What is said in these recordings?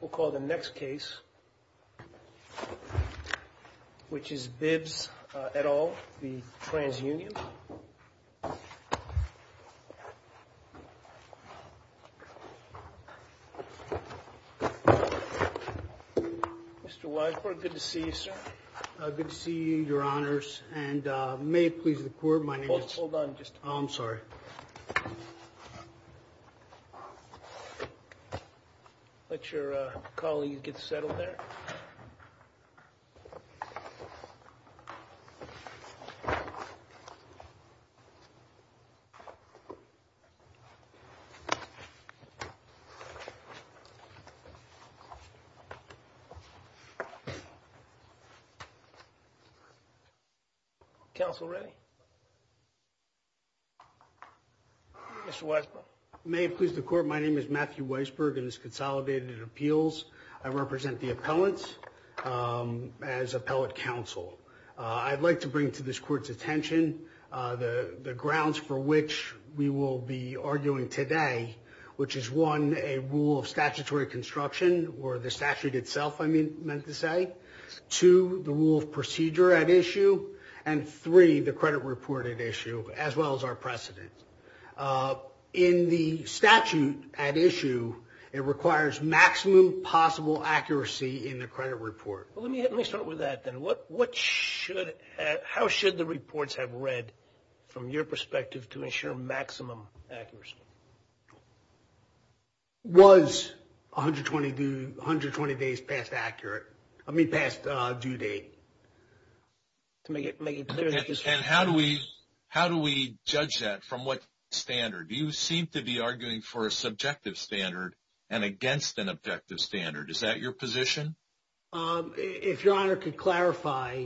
We'll call the next case, which is Bibbs et al. v. Trans Union. Mr. Weisbord, good to see you, sir. Good to see you, your honors, and may it please the court, my name is... Hold on, just... Oh, I'm sorry. Mr. Weisbord, let your colleague get settled there. Thank you. Counsel ready? Mr. Weisbord. May it please the court, my name is Matthew Weisbord and this is Consolidated Appeals. I represent the appellants as appellate counsel. I'd like to bring to this court's attention the grounds for which we will be arguing today, which is one, a rule of statutory construction, or the statute itself, I meant to say. Two, the rule of procedure at issue. And three, the credit report at issue, as well as our precedent. In the statute at issue, it requires maximum possible accuracy in the credit report. Let me start with that then. How should the reports have read from your perspective to ensure maximum accuracy? Was 120 days past due date? And how do we judge that from what standard? You seem to be arguing for a subjective standard and against an objective standard. Is that your position? If Your Honor could clarify.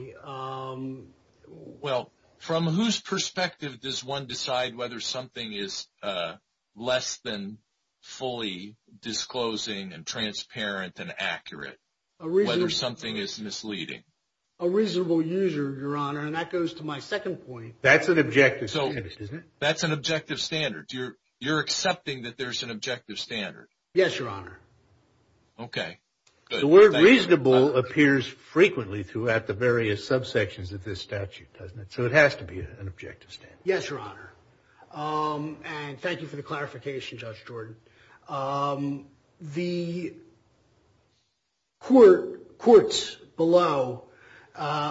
Well, from whose perspective does one decide whether something is less than fully disclosing and transparent and accurate? Whether something is misleading? A reasonable user, Your Honor, and that goes to my second point. That's an objective standard, isn't it? That's an objective standard. You're accepting that there's an objective standard? Yes, Your Honor. Okay. The word reasonable appears frequently throughout the various subsections of this statute, doesn't it? So it has to be an objective standard. Yes, Your Honor. And thank you for the clarification, Judge Jordan. The courts below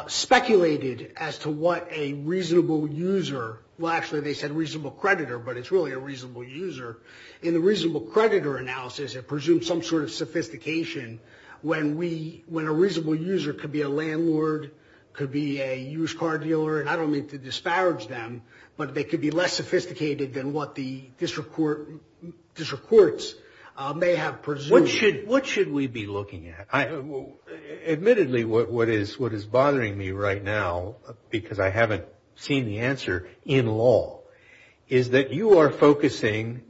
speculated as to what a reasonable user, well, actually they said reasonable creditor, but it's really a reasonable user. In the reasonable creditor analysis, it presumes some sort of sophistication when a reasonable user could be a landlord, could be a used car dealer, and I don't mean to disparage them, but they could be less sophisticated than what the district courts may have presumed. What should we be looking at? Admittedly, what is bothering me right now, because I haven't seen the answer in law, is that you are focusing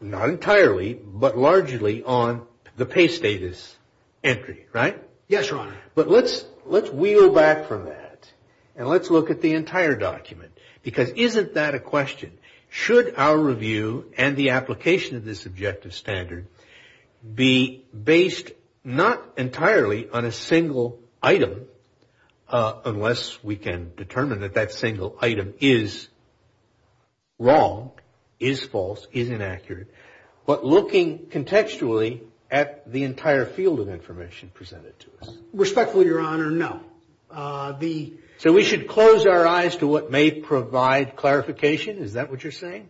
not entirely but largely on the pay status entry, right? Yes, Your Honor. But let's wheel back from that and let's look at the entire document, because isn't that a question? Should our review and the application of this objective standard be based not entirely on a single item, unless we can determine that that single item is wrong, is false, is inaccurate, but looking contextually at the entire field of information presented to us? Respectfully, Your Honor, no. So we should close our eyes to what may provide clarification? Is that what you're saying?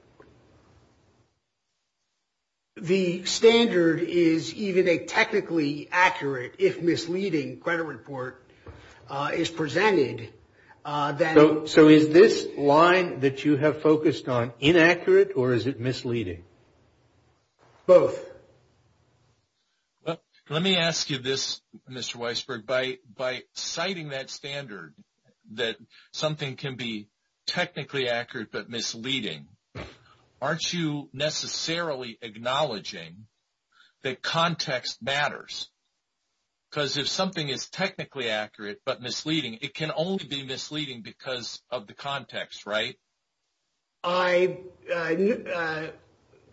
The standard is even a technically accurate, if misleading, credit report is presented. So is this line that you have focused on inaccurate or is it misleading? Both. Let me ask you this, Mr. Weisberg. By citing that standard, that something can be technically accurate but misleading, aren't you necessarily acknowledging that context matters? Because if something is technically accurate but misleading, it can only be misleading because of the context, right?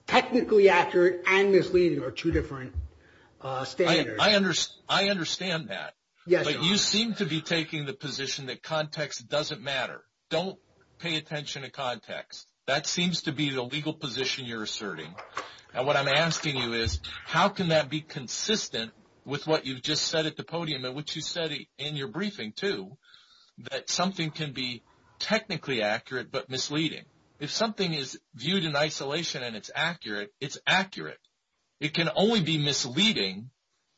Technically accurate and misleading are two different standards. I understand that. But you seem to be taking the position that context doesn't matter. Don't pay attention to context. That seems to be the legal position you're asserting. And what I'm asking you is, how can that be consistent with what you just said at the podium, and what you said in your briefing, too, that something can be technically accurate but misleading? If something is viewed in isolation and it's accurate, it's accurate. It can only be misleading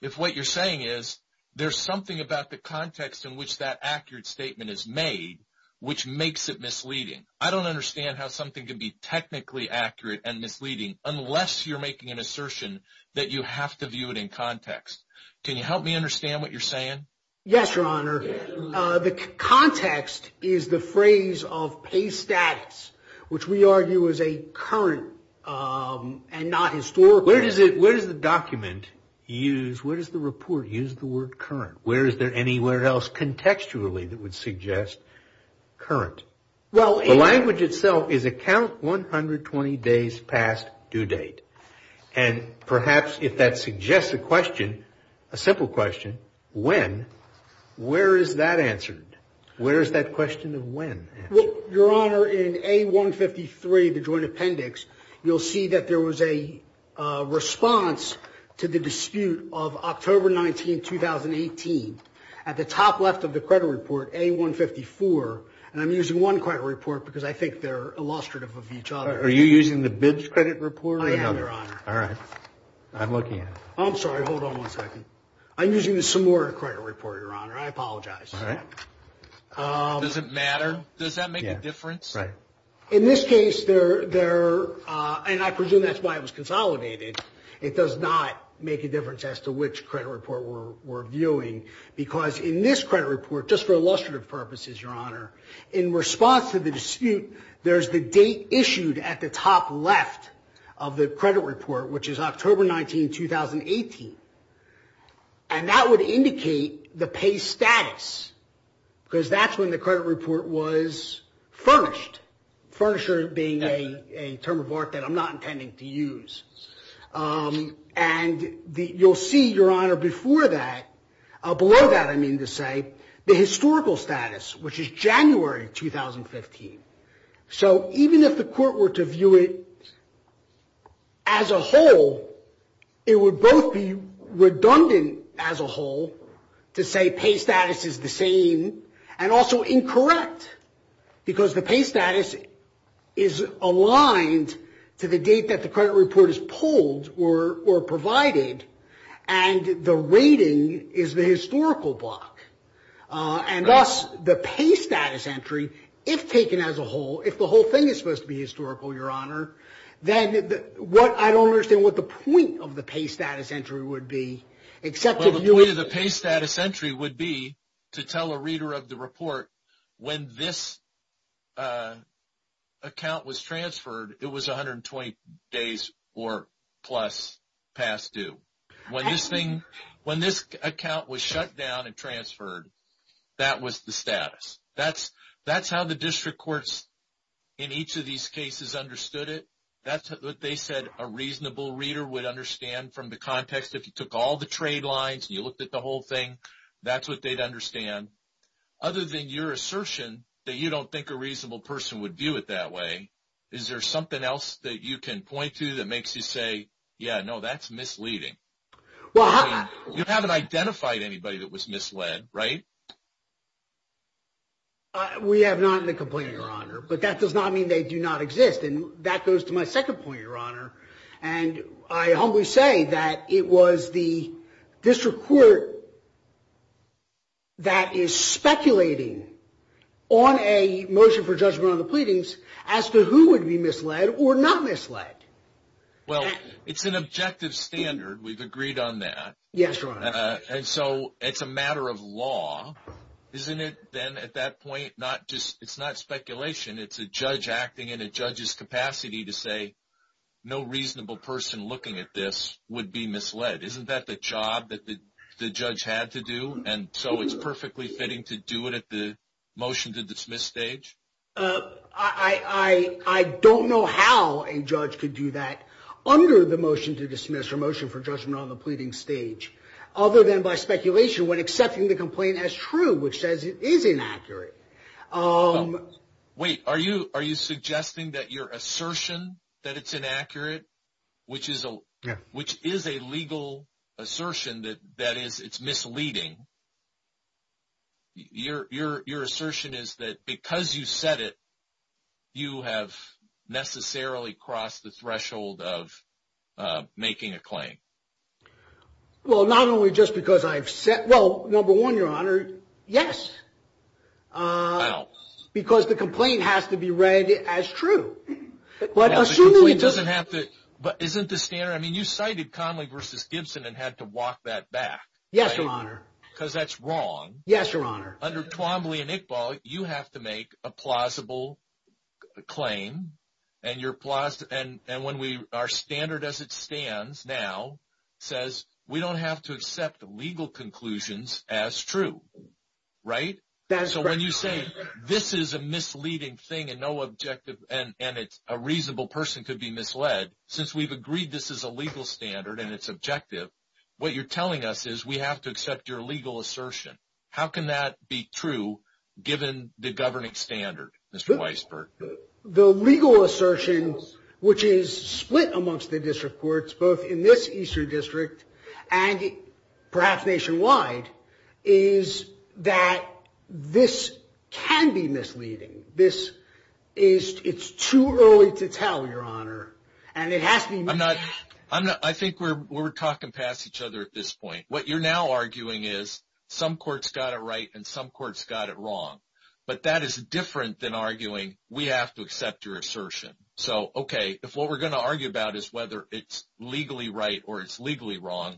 if what you're saying is there's something about the context in which that accurate statement is made, which makes it misleading. I don't understand how something can be technically accurate and misleading unless you're making an assertion that you have to view it in context. Can you help me understand what you're saying? Yes, Your Honor. The context is the phrase of pay status, which we argue is a current and not historical. Where does the document use, where does the report use the word current? Where is there anywhere else contextually that would suggest current? The language itself is a count 120 days past due date. And perhaps if that suggests a question, a simple question, when, where is that answered? Where is that question of when answered? Well, Your Honor, in A-153, the joint appendix, you'll see that there was a response to the dispute of October 19, 2018. At the top left of the credit report, A-154, and I'm using one credit report because I think they're illustrative of each other. Are you using the BIDS credit report? I am, Your Honor. All right. I'm looking at it. I'm sorry. Hold on one second. I'm using the Samora credit report, Your Honor. I apologize. All right. Does it matter? Does that make a difference? Right. In this case, they're, and I presume that's why it was consolidated. It does not make a difference as to which credit report we're viewing because in this credit report, just for illustrative purposes, Your Honor, in response to the dispute, there's the date issued at the top left of the credit report, which is October 19, 2018. And that would indicate the pay status because that's when the credit report was furnished. Furnisher being a term of art that I'm not intending to use. And you'll see, Your Honor, before that, below that I mean to say, the historical status, which is January 2015. So even if the court were to view it as a whole, it would both be redundant as a whole to say pay status is the same and also incorrect. Because the pay status is aligned to the date that the credit report is pulled or provided and the rating is the historical block. And thus, the pay status entry, if taken as a whole, if the whole thing is supposed to be historical, Your Honor, then I don't understand what the point of the pay status entry would be. Well, the point of the pay status entry would be to tell a reader of the report when this account was transferred, it was 120 days or plus past due. When this account was shut down and transferred, that was the status. That's how the district courts in each of these cases understood it. That's what they said a reasonable reader would understand from the context. If you took all the trade lines and you looked at the whole thing, that's what they'd understand. Other than your assertion that you don't think a reasonable person would view it that way, is there something else that you can point to that makes you say, yeah, no, that's misleading? You haven't identified anybody that was misled, right? We have not in the complaint, Your Honor. But that does not mean they do not exist. And that goes to my second point, Your Honor. And I humbly say that it was the district court that is speculating on a motion for judgment on the pleadings as to who would be misled or not misled. Well, it's an objective standard. We've agreed on that. Yes, Your Honor. And so it's a matter of law, isn't it? But then at that point, it's not speculation. It's a judge acting in a judge's capacity to say no reasonable person looking at this would be misled. Isn't that the job that the judge had to do? And so it's perfectly fitting to do it at the motion to dismiss stage? I don't know how a judge could do that under the motion to dismiss or motion for judgment on the pleading stage, other than by speculation when accepting the complaint as true, which says it is inaccurate. Wait. Are you suggesting that your assertion that it's inaccurate, which is a legal assertion that it's misleading, your assertion is that because you said it, you have necessarily crossed the threshold of making a claim? Well, not only just because I've said, well, number one, Your Honor, yes, because the complaint has to be read as true. But assuming it doesn't have to. But isn't the standard. I mean, you cited Conley versus Gibson and had to walk that back. Yes, Your Honor. Because that's wrong. Yes, Your Honor. Under Twombly and Iqbal, you have to make a plausible claim. And when our standard as it stands now says we don't have to accept legal conclusions as true, right? That is correct. So when you say this is a misleading thing and no objective and a reasonable person could be misled, since we've agreed this is a legal standard and it's objective, what you're telling us is we have to accept your legal assertion. How can that be true given the governing standard, Mr. Weisberg? The legal assertion, which is split amongst the district courts, both in this eastern district and perhaps nationwide, is that this can be misleading. It's too early to tell, Your Honor. And it has to be misleading. I think we're talking past each other at this point. What you're now arguing is some court's got it right and some court's got it wrong. But that is different than arguing we have to accept your assertion. So, okay, if what we're going to argue about is whether it's legally right or it's legally wrong,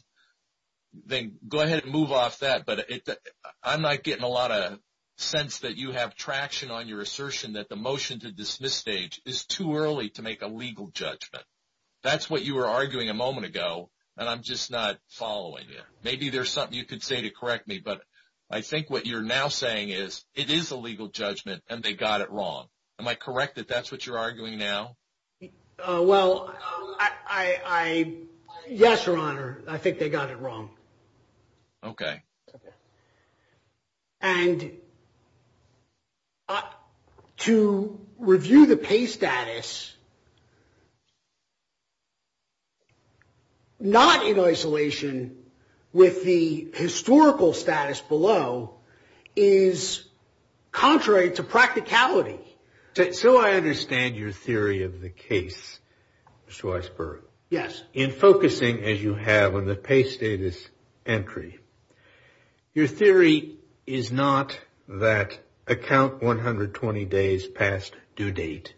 then go ahead and move off that. But I'm not getting a lot of sense that you have traction on your assertion that the motion to dismiss stage is too early to make a legal judgment. That's what you were arguing a moment ago, and I'm just not following it. Maybe there's something you could say to correct me. But I think what you're now saying is it is a legal judgment and they got it wrong. Am I correct that that's what you're arguing now? Well, yes, Your Honor. Okay. And to review the pay status not in isolation with the historical status below is contrary to practicality. So I understand your theory of the case, Mr. Weisberg. Yes. In focusing, as you have on the pay status entry, your theory is not that account 120 days past due date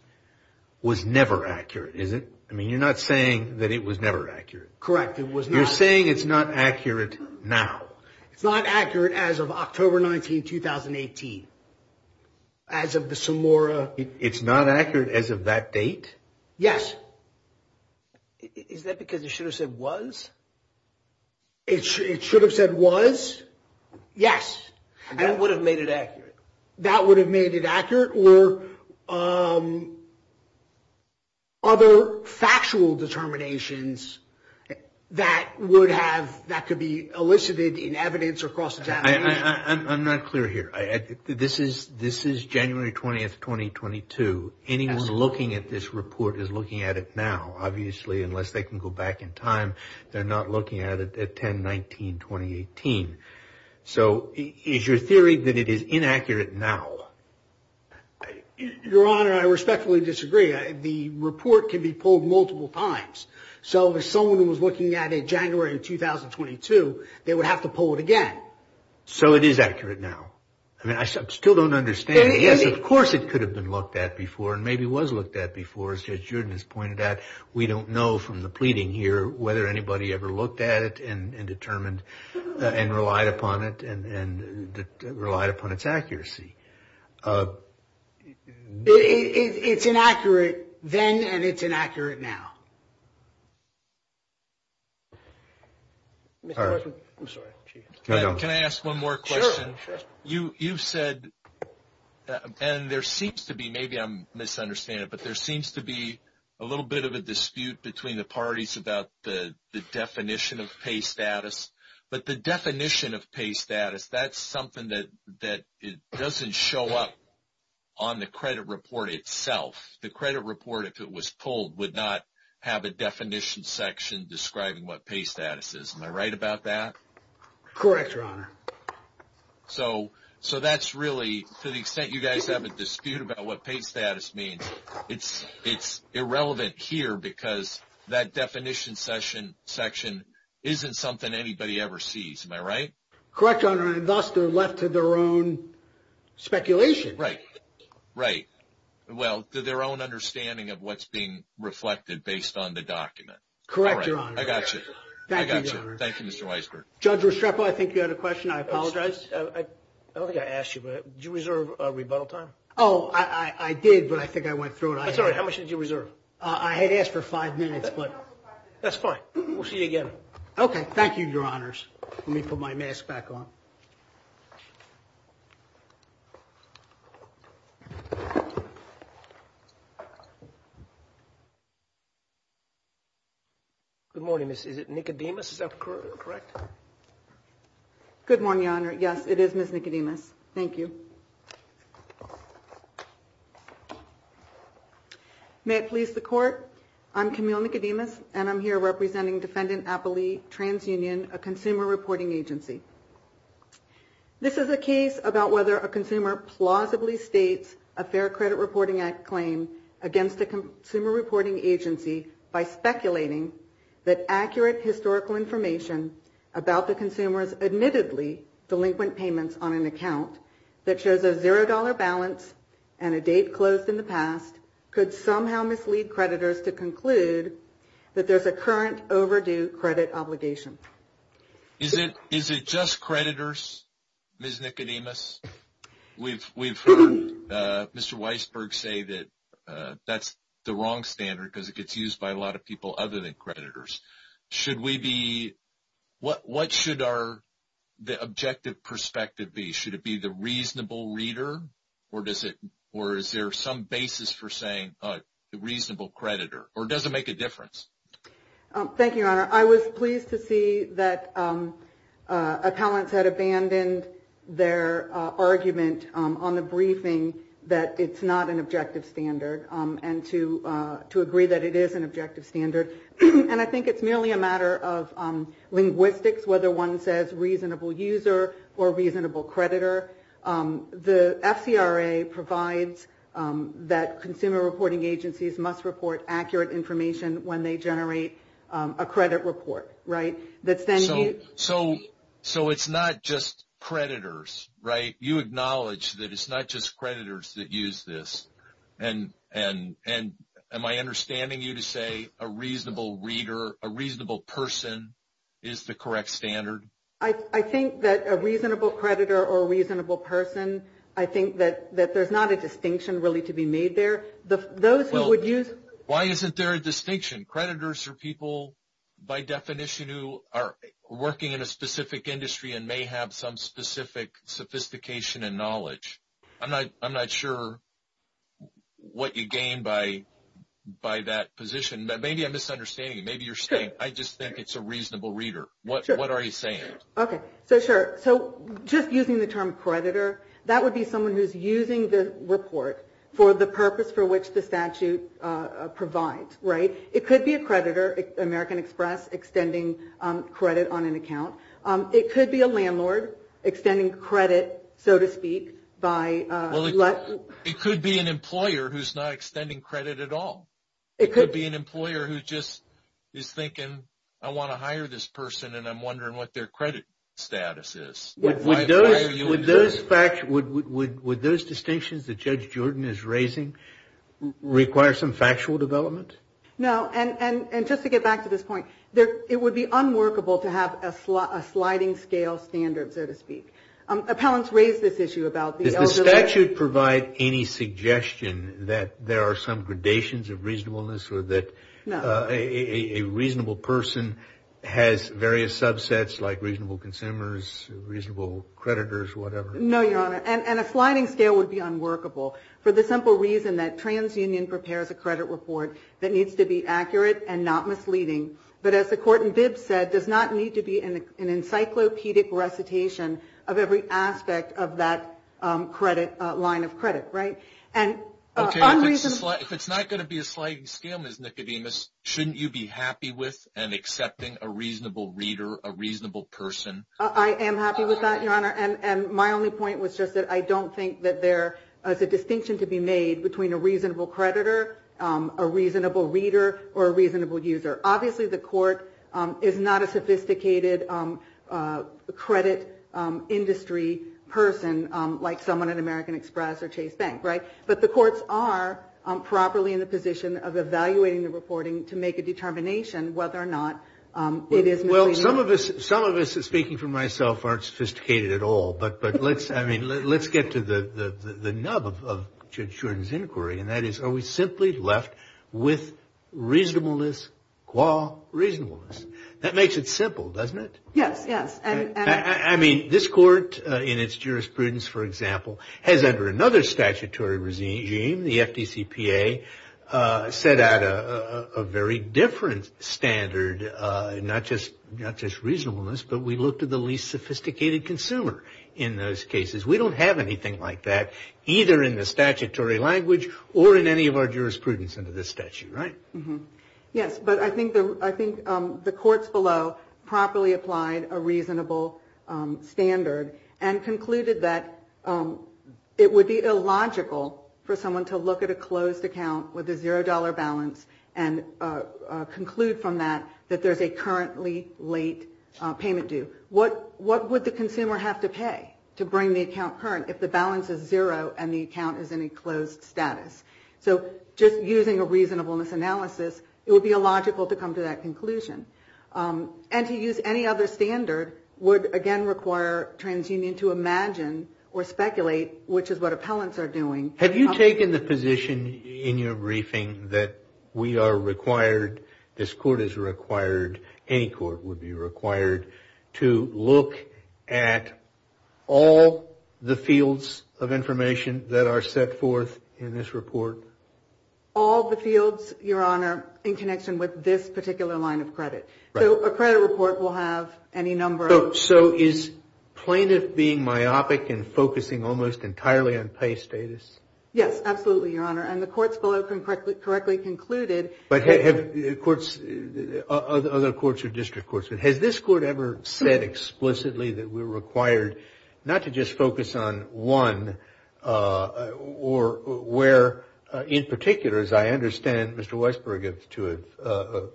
was never accurate, is it? I mean, you're not saying that it was never accurate. Correct. It was not. You're saying it's not accurate now. It's not accurate as of October 19, 2018, as of the Samora. It's not accurate as of that date? Yes. Is that because it should have said was? It should have said was? Yes. And that would have made it accurate. That would have made it accurate or other factual determinations that would have, that could be elicited in evidence or cross examination. I'm not clear here. This is January 20, 2022. Anyone looking at this report is looking at it now. Obviously, unless they can go back in time, they're not looking at it at 10, 19, 2018. So is your theory that it is inaccurate now? Your Honor, I respectfully disagree. The report can be pulled multiple times. So if someone was looking at it January 2022, they would have to pull it again. So it is accurate now. I mean, I still don't understand. Yes, of course it could have been looked at before and maybe was looked at before. As Judge Jordan has pointed out, we don't know from the pleading here whether anybody ever looked at it and determined and relied upon it and relied upon its accuracy. It's inaccurate then and it's inaccurate now. Can I ask one more question? You've said, and there seems to be, maybe I'm misunderstanding, but there seems to be a little bit of a dispute between the parties about the definition of pay status. But the definition of pay status, that's something that doesn't show up on the credit report itself. The credit report, if it was pulled, would not have a definition section describing what pay status is. Am I right about that? Correct, Your Honor. So that's really, to the extent you guys have a dispute about what pay status means, it's irrelevant here because that definition section isn't something anybody ever sees. Am I right? Correct, Your Honor. And thus, they're left to their own speculation. Right. Right. Well, to their own understanding of what's being reflected based on the document. Correct, Your Honor. I got you. Thank you, Your Honor. Judge Restrepo, I think you had a question. I apologize. I don't think I asked you, but did you reserve a rebuttal time? Oh, I did, but I think I went through it. I'm sorry. How much did you reserve? I had asked for five minutes. That's fine. We'll see you again. Okay. Thank you, Your Honors. Let me put my mask back on. Good morning, Miss. Is it Nicodemus? Yes, correct. Good morning, Your Honor. Yes, it is Miss Nicodemus. Thank you. May it please the Court, I'm Camille Nicodemus, and I'm here representing Defendant Appley TransUnion, a consumer reporting agency. This is a case about whether a consumer plausibly states a Fair Credit Reporting Act claim against a consumer reporting agency by speculating that accurate historical information about the consumer's admittedly delinquent payments on an account that shows a $0 balance and a date closed in the past could somehow mislead creditors to conclude that there's a current overdue credit obligation. Is it just creditors, Miss Nicodemus? We've heard Mr. Weisberg say that that's the wrong standard because it gets used by a lot of people other than creditors. What should the objective perspective be? Should it be the reasonable reader, or is there some basis for saying the reasonable creditor, or does it make a difference? Thank you, Your Honor. Your Honor, I was pleased to see that appellants had abandoned their argument on the briefing that it's not an objective standard and to agree that it is an objective standard. And I think it's merely a matter of linguistics, whether one says reasonable user or reasonable creditor. The FCRA provides that consumer reporting agencies must report accurate information when they So it's not just creditors, right? You acknowledge that it's not just creditors that use this, and am I understanding you to say a reasonable reader, a reasonable person is the correct standard? I think that a reasonable creditor or a reasonable person, I think that there's not a distinction really to be made there. Why isn't there a distinction? Creditors are people, by definition, who are working in a specific industry and may have some specific sophistication and knowledge. I'm not sure what you gain by that position. Maybe I'm misunderstanding you. Maybe you're saying, I just think it's a reasonable reader. What are you saying? Okay, so sure. So just using the term creditor, that would be someone who's using the report for the purpose for which the statute provides, right? It could be a creditor, American Express extending credit on an account. It could be a landlord extending credit, so to speak, by Well, it could be an employer who's not extending credit at all. It could be an employer who just is thinking, I want to hire this person and I'm wondering what their credit status is. Would those distinctions that Judge Jordan is raising require some factual development? No. And just to get back to this point, it would be unworkable to have a sliding scale standard, so to speak. Appellants raise this issue about Does the statute provide any suggestion that there are some gradations of reasonableness or that a reasonable person has various subsets like reasonable consumers, reasonable creditors, whatever. No, Your Honor. And a sliding scale would be unworkable for the simple reason that TransUnion prepares a credit report that needs to be accurate and not misleading, but as the court in Bibb said, does not need to be an encyclopedic recitation of every aspect of that line of credit, right? If it's not going to be a sliding scale, Ms. Nicodemus, shouldn't you be happy with and accepting a reasonable reader, a reasonable person? I am happy with that, Your Honor, and my only point was just that I don't think that there is a distinction to be made between a reasonable creditor, a reasonable reader, or a reasonable user. Obviously, the court is not a sophisticated credit industry person like someone at American Express or Chase Bank, right? But the courts are properly in the position of evaluating the reporting to make a determination whether or not it is misleading. Well, some of us, speaking for myself, aren't sophisticated at all. But let's get to the nub of Judge Shuren's inquiry, and that is are we simply left with reasonableness qua reasonableness? That makes it simple, doesn't it? Yes, yes. I mean, this court in its jurisprudence, for example, has under another statutory regime, the FDCPA, set out a very different standard, not just reasonableness, but we looked at the least sophisticated consumer in those cases. We don't have anything like that either in the statutory language or in any of our jurisprudence under this statute, right? Yes, but I think the courts below properly applied a reasonable standard and concluded that it would be illogical for someone to look at a closed account with a zero dollar balance and conclude from that that there's a currently late payment due. What would the consumer have to pay to bring the account current if the balance is zero and the account is in a closed status? So just using a reasonableness analysis, it would be illogical to come to that conclusion. And to use any other standard would, again, require TransUnion to imagine or speculate which is what appellants are doing. Have you taken the position in your briefing that we are required, this court is required, any court would be required to look at all the All the fields, your honor, in connection with this particular line of credit. So a credit report will have any number of So is plaintiff being myopic and focusing almost entirely on pay status? Yes, absolutely, your honor. And the courts below correctly concluded But have courts, other courts or district courts, has this court ever said explicitly that we're required not to just focus on one Or where, in particular, as I understand, Mr. Weisberg to have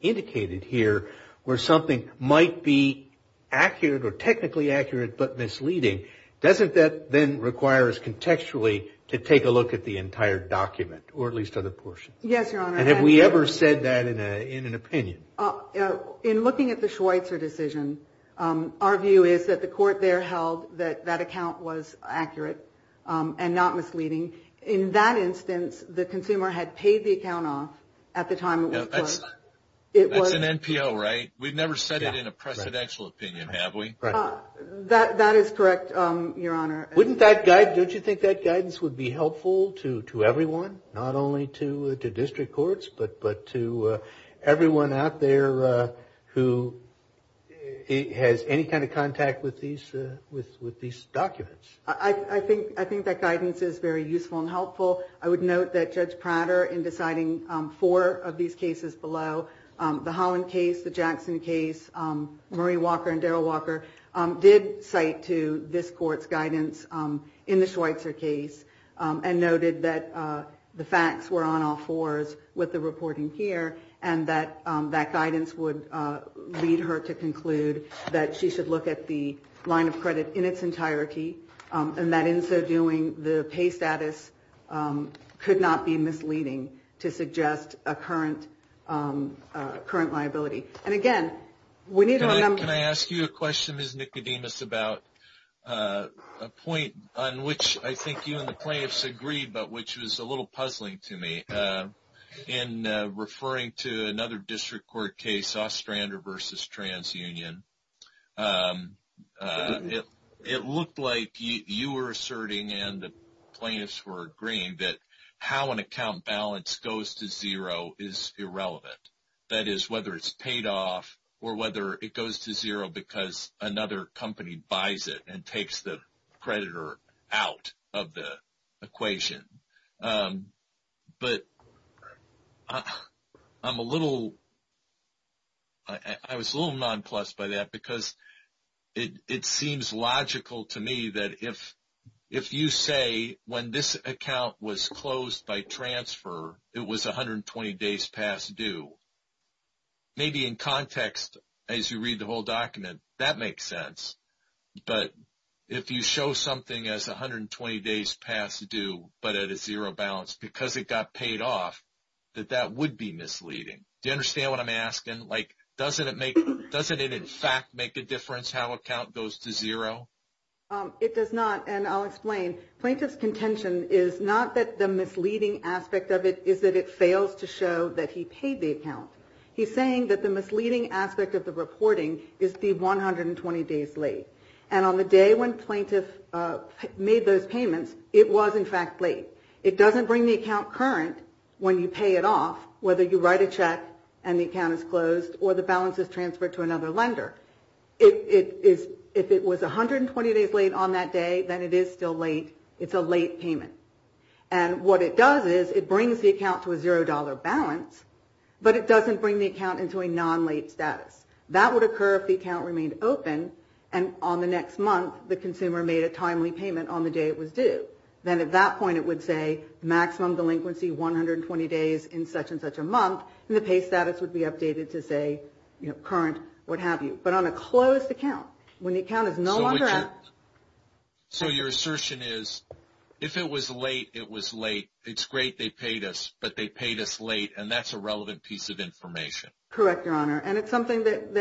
indicated here, where something might be accurate or technically accurate but misleading. Doesn't that then require us contextually to take a look at the entire document or at least other portions? Yes, your honor. And have we ever said that in an opinion? In looking at the Schweitzer decision, our view is that the court there held that that account was accurate and not misleading. In that instance, the consumer had paid the account off at the time it was put. That's an NPO, right? We've never said it in a presidential opinion, have we? That is correct, your honor. Don't you think that guidance would be helpful to everyone? Not only to district courts but to everyone out there who has any kind of contact with these documents? I think that guidance is very useful and helpful. I would note that Judge Prater, in deciding four of these cases below, the Holland case, the Jackson case, Marie Walker and Daryl Walker, did cite to this court's guidance in the Schweitzer case and noted that the facts were on all fours with the reporting here and that that guidance would lead her to conclude that she should look at the line of credit in its entirety and that in so doing, the pay status could not be misleading to suggest a current liability. And again, we need to remember... Can I ask you a question, Ms. Nicodemus, about a point on which I think you and the plaintiffs agreed but which was a little puzzling to me. In referring to another district court case, Ostrander v. TransUnion, it looked like you were asserting and the plaintiffs were agreeing that how an account balance goes to zero is irrelevant. That is, whether it's paid off or whether it goes to zero because another company buys it and takes the creditor out of the equation. But I'm a little... I was a little nonplussed by that because it seems logical to me that if you say, when this account was closed by transfer, it was 120 days past due. Maybe in context, as you read the whole document, that makes sense. But if you show something as 120 days past due but at a zero balance because it got paid off, that that would be misleading. Do you understand what I'm asking? Like, doesn't it in fact make a difference how an account goes to zero? It does not. And I'll explain. Plaintiff's contention is not that the misleading aspect of it is that it fails to show that he paid the account. He's saying that the misleading aspect of the reporting is the 120 days late. And on the day when plaintiff made those payments, it was in fact late. It doesn't bring the account current when you pay it off, whether you write a check and the account is closed or the balance is transferred to another lender. If it was 120 days late on that day, then it is still late. It's a late payment. And what it does is it brings the account to a zero dollar balance, but it doesn't bring the account into a non-late status. That would occur if the account remained open and on the next month the consumer made a timely payment on the day it was due. Then at that point it would say maximum delinquency, 120 days in such and such a month. And the pay status would be updated to say, you know, current, what have you. But on a closed account, when the account is no longer active. So your assertion is if it was late, it was late. It's great they paid us, but they paid us late, and that's a relevant piece of information. Correct, Your Honor. And it's something that-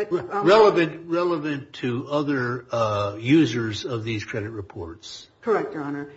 Relevant to other users of these credit reports. Correct, Your Honor.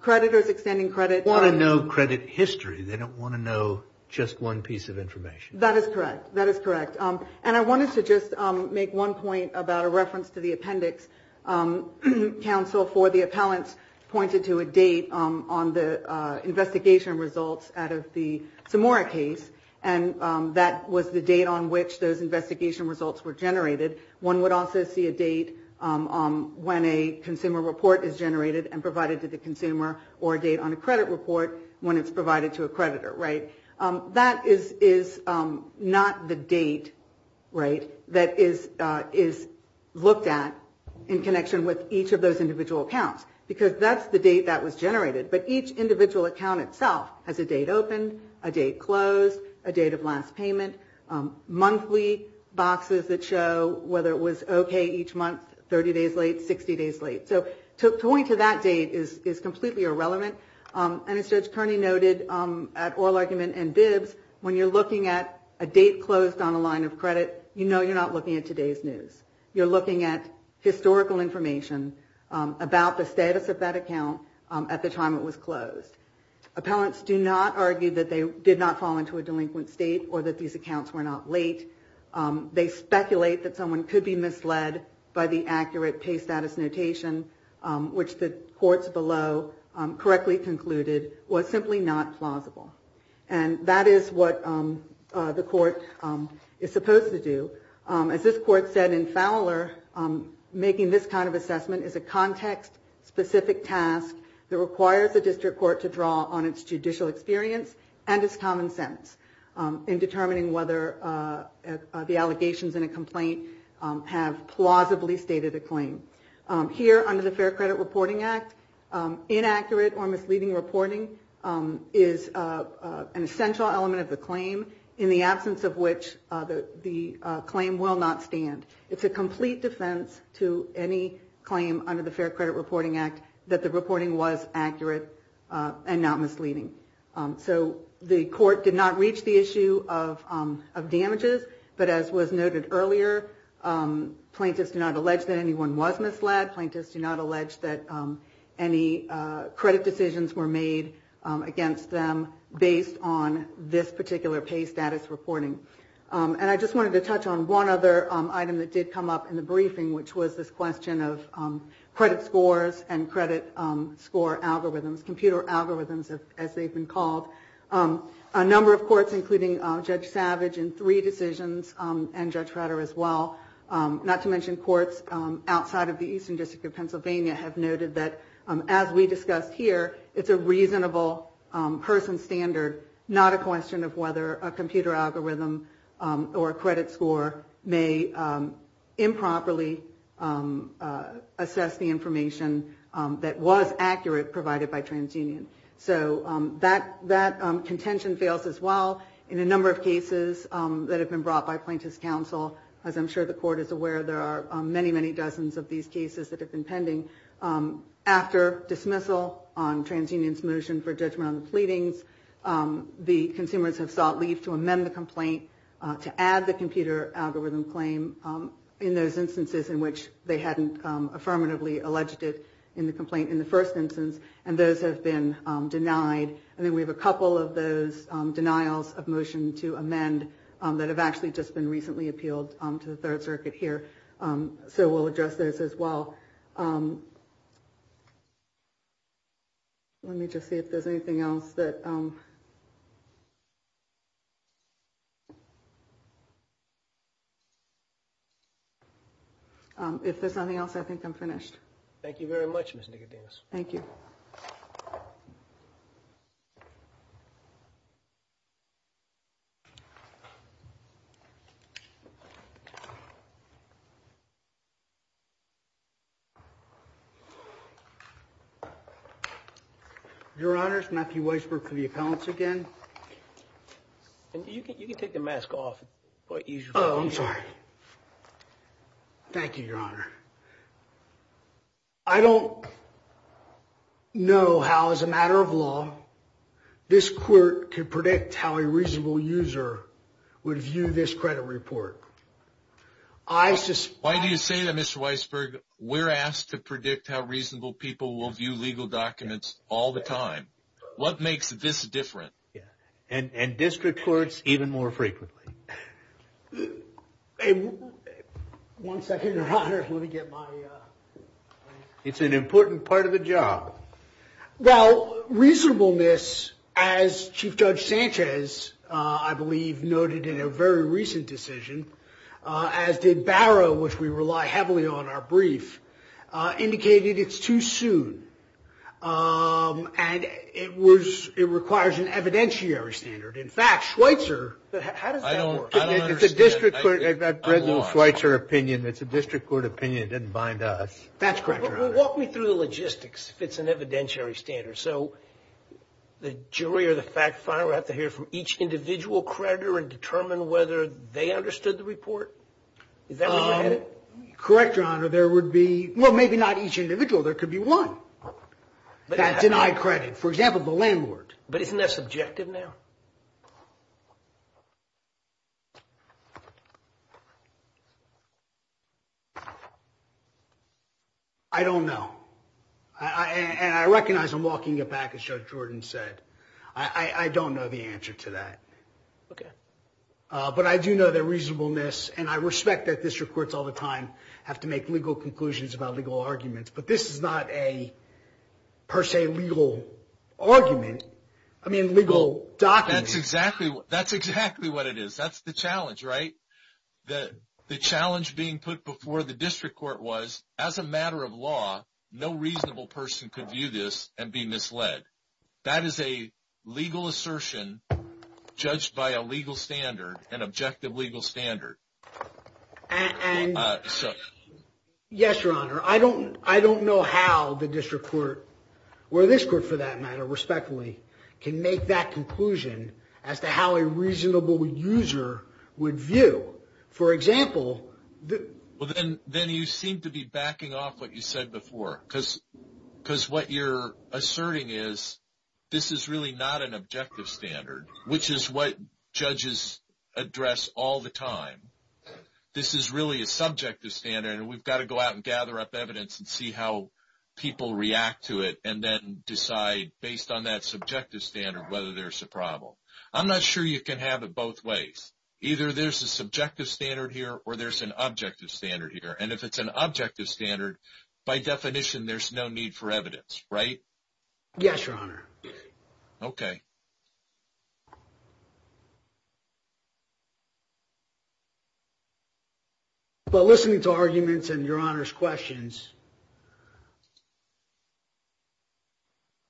Creditors extending credit- Want to know credit history. They don't want to know just one piece of information. That is correct. That is correct. And I wanted to just make one point about a reference to the appendix. Counsel for the appellants pointed to a date on the investigation results out of the Samora case, and that was the date on which those investigation results were generated. One would also see a date when a consumer report is generated and provided to the consumer, or a date on a credit report when it's provided to a creditor, right? That is not the date, right, that is looked at in connection with each of those individual accounts, because that's the date that was generated. But each individual account itself has a date opened, a date closed, a date of last payment, monthly boxes that show whether it was okay each month, 30 days late, 60 days late. So going to that date is completely irrelevant. And as Judge Kearney noted at oral argument and bibs, when you're looking at a date closed on a line of credit, you know you're not looking at today's news. You're looking at historical information about the status of that account at the time it was closed. Appellants do not argue that they did not fall into a delinquent state or that these accounts were not late. They speculate that someone could be misled by the accurate pay status notation, which the courts below correctly concluded was simply not plausible. And that is what the court is supposed to do. As this court said in Fowler, making this kind of assessment is a context-specific task that requires the district court to draw on its judicial experience and its common sense in determining whether the allegations in a complaint have plausibly stated a claim. Here under the Fair Credit Reporting Act, inaccurate or misleading reporting is an essential element of the claim in the absence of which the claim will not stand. It's a complete defense to any claim under the Fair Credit Reporting Act that the reporting was accurate and not misleading. So the court did not reach the issue of damages, but as was noted earlier, plaintiffs do not allege that anyone was misled, plaintiffs do not allege that any credit decisions were made against them based on this particular pay status reporting. And I just wanted to touch on one other item that did come up in the briefing, which was this question of credit scores and credit score algorithms, computer algorithms as they've been called. A number of courts, including Judge Savage in three decisions, and Judge Rutter as well, not to mention courts outside of the Eastern District of Pennsylvania have noted that, as we discussed here, it's a reasonable person standard, not a question of whether a computer algorithm or a credit score may improperly assess the information that was accurate provided by TransUnion. So that contention fails as well in a number of cases that have been brought by plaintiffs' counsel. As I'm sure the court is aware, there are many, many dozens of these cases that have been pending. After dismissal on TransUnion's motion for judgment on the pleadings, the consumers have sought leave to amend the complaint to add the computer algorithm claim in those instances in which they hadn't affirmatively alleged it in the complaint in those instances, and those have been denied. And then we have a couple of those denials of motion to amend that have actually just been recently appealed to the Third Circuit here. So we'll address those as well. Let me just see if there's anything else that... If there's nothing else, I think I'm finished. Thank you very much, Ms. Nicodemus. Thank you. Your Honors, Matthew Weisberg for the appellants again. You can take the mask off. I'm sorry. Thank you, Your Honor. I don't know how, as a matter of law, this court could predict how a reasonable user would view this credit report. Why do you say that, Mr. Weisberg? We're asked to predict how reasonable people will view legal documents all the time. What makes this different? And district courts even more frequently. One second, Your Honor. It's an important part of the job. Well, reasonableness, as Chief Judge Sanchez, I believe, noted in a very recent decision, as did Barrow, which we rely heavily on our brief, indicated it's too soon. And it requires an evidentiary standard. In fact, Schweitzer... How does that work? I don't understand. I've read the Schweitzer opinion. It's a district court opinion. It doesn't bind us. That's correct, Your Honor. Walk me through the logistics, if it's an evidentiary standard. So the jury or the fact finder would have to hear from each individual creditor and determine whether they understood the report? Is that what you're headed? Correct, Your Honor. There would be... Well, maybe not each individual. There could be one that denied credit. For example, the landlord. But isn't that subjective now? I don't know. And I recognize I'm walking it back, as Judge Jordan said. I don't know the answer to that. Okay. But I do know that reasonableness, and I respect that district courts all the time have to make legal conclusions about legal arguments, but this is not a, per se, legal argument. I mean, legal document. That's exactly what it is. That's the challenge, right? The challenge being put before the district court was, as a matter of law, no reasonable person could view this and be misled. That is a legal assertion judged by a legal standard, an objective legal standard. Yes, Your Honor. I don't know how the district court, or this court for that matter, respectfully, can make that conclusion as to how a reasonable user would view. For example... Well, then you seem to be backing off what you said before, because what you're asserting is this is really not an objective standard, which is what judges address all the time. This is really a subjective standard, and we've got to go out and gather up evidence and see how people react to it and then decide, based on that subjective standard, whether there's a problem. I'm not sure you can have it both ways. Either there's a subjective standard here or there's an objective standard here, and if it's an objective standard, by definition, there's no need for evidence, right? Yes, Your Honor. Okay. But listening to arguments and Your Honor's questions,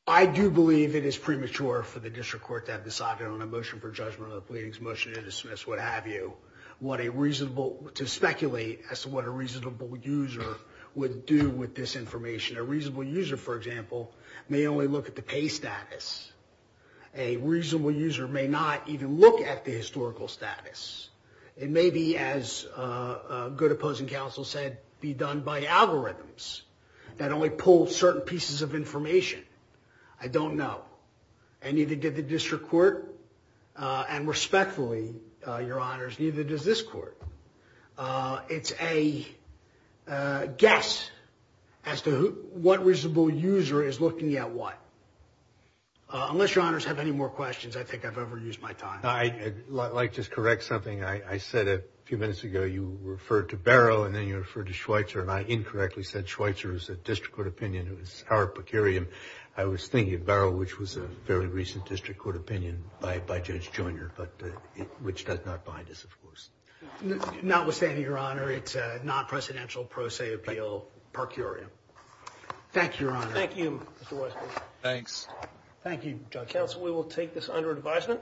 I do believe it is premature for the district court to have decided on a motion for judgment or a pleading motion to dismiss, what have you, to speculate as to what a reasonable user would do with this information. A reasonable user, for example, may only look at the pay status. A reasonable user may not even look at the historical status. It may be, as a good opposing counsel said, be done by algorithms that only pull certain pieces of information. I don't know. And neither did the district court, and respectfully, Your Honors, neither does this court. It's a guess as to what reasonable user is looking at what. Unless Your Honors have any more questions, I think I've overused my time. I'd like to correct something. I said a few minutes ago you referred to Barrow, and then you referred to Schweitzer, and I incorrectly said Schweitzer was a district court opinion. It was Howard Pecarium. I was thinking Barrow, which was a very recent district court opinion by Judge Joyner, which does not bind us, of course. Notwithstanding, Your Honor, it's a non-presidential pro se appeal, Pecarium. Thank you, Your Honor. Thank you, Mr. Weissberg. Thanks. Thank you, Judge Council. We will take this under advisement.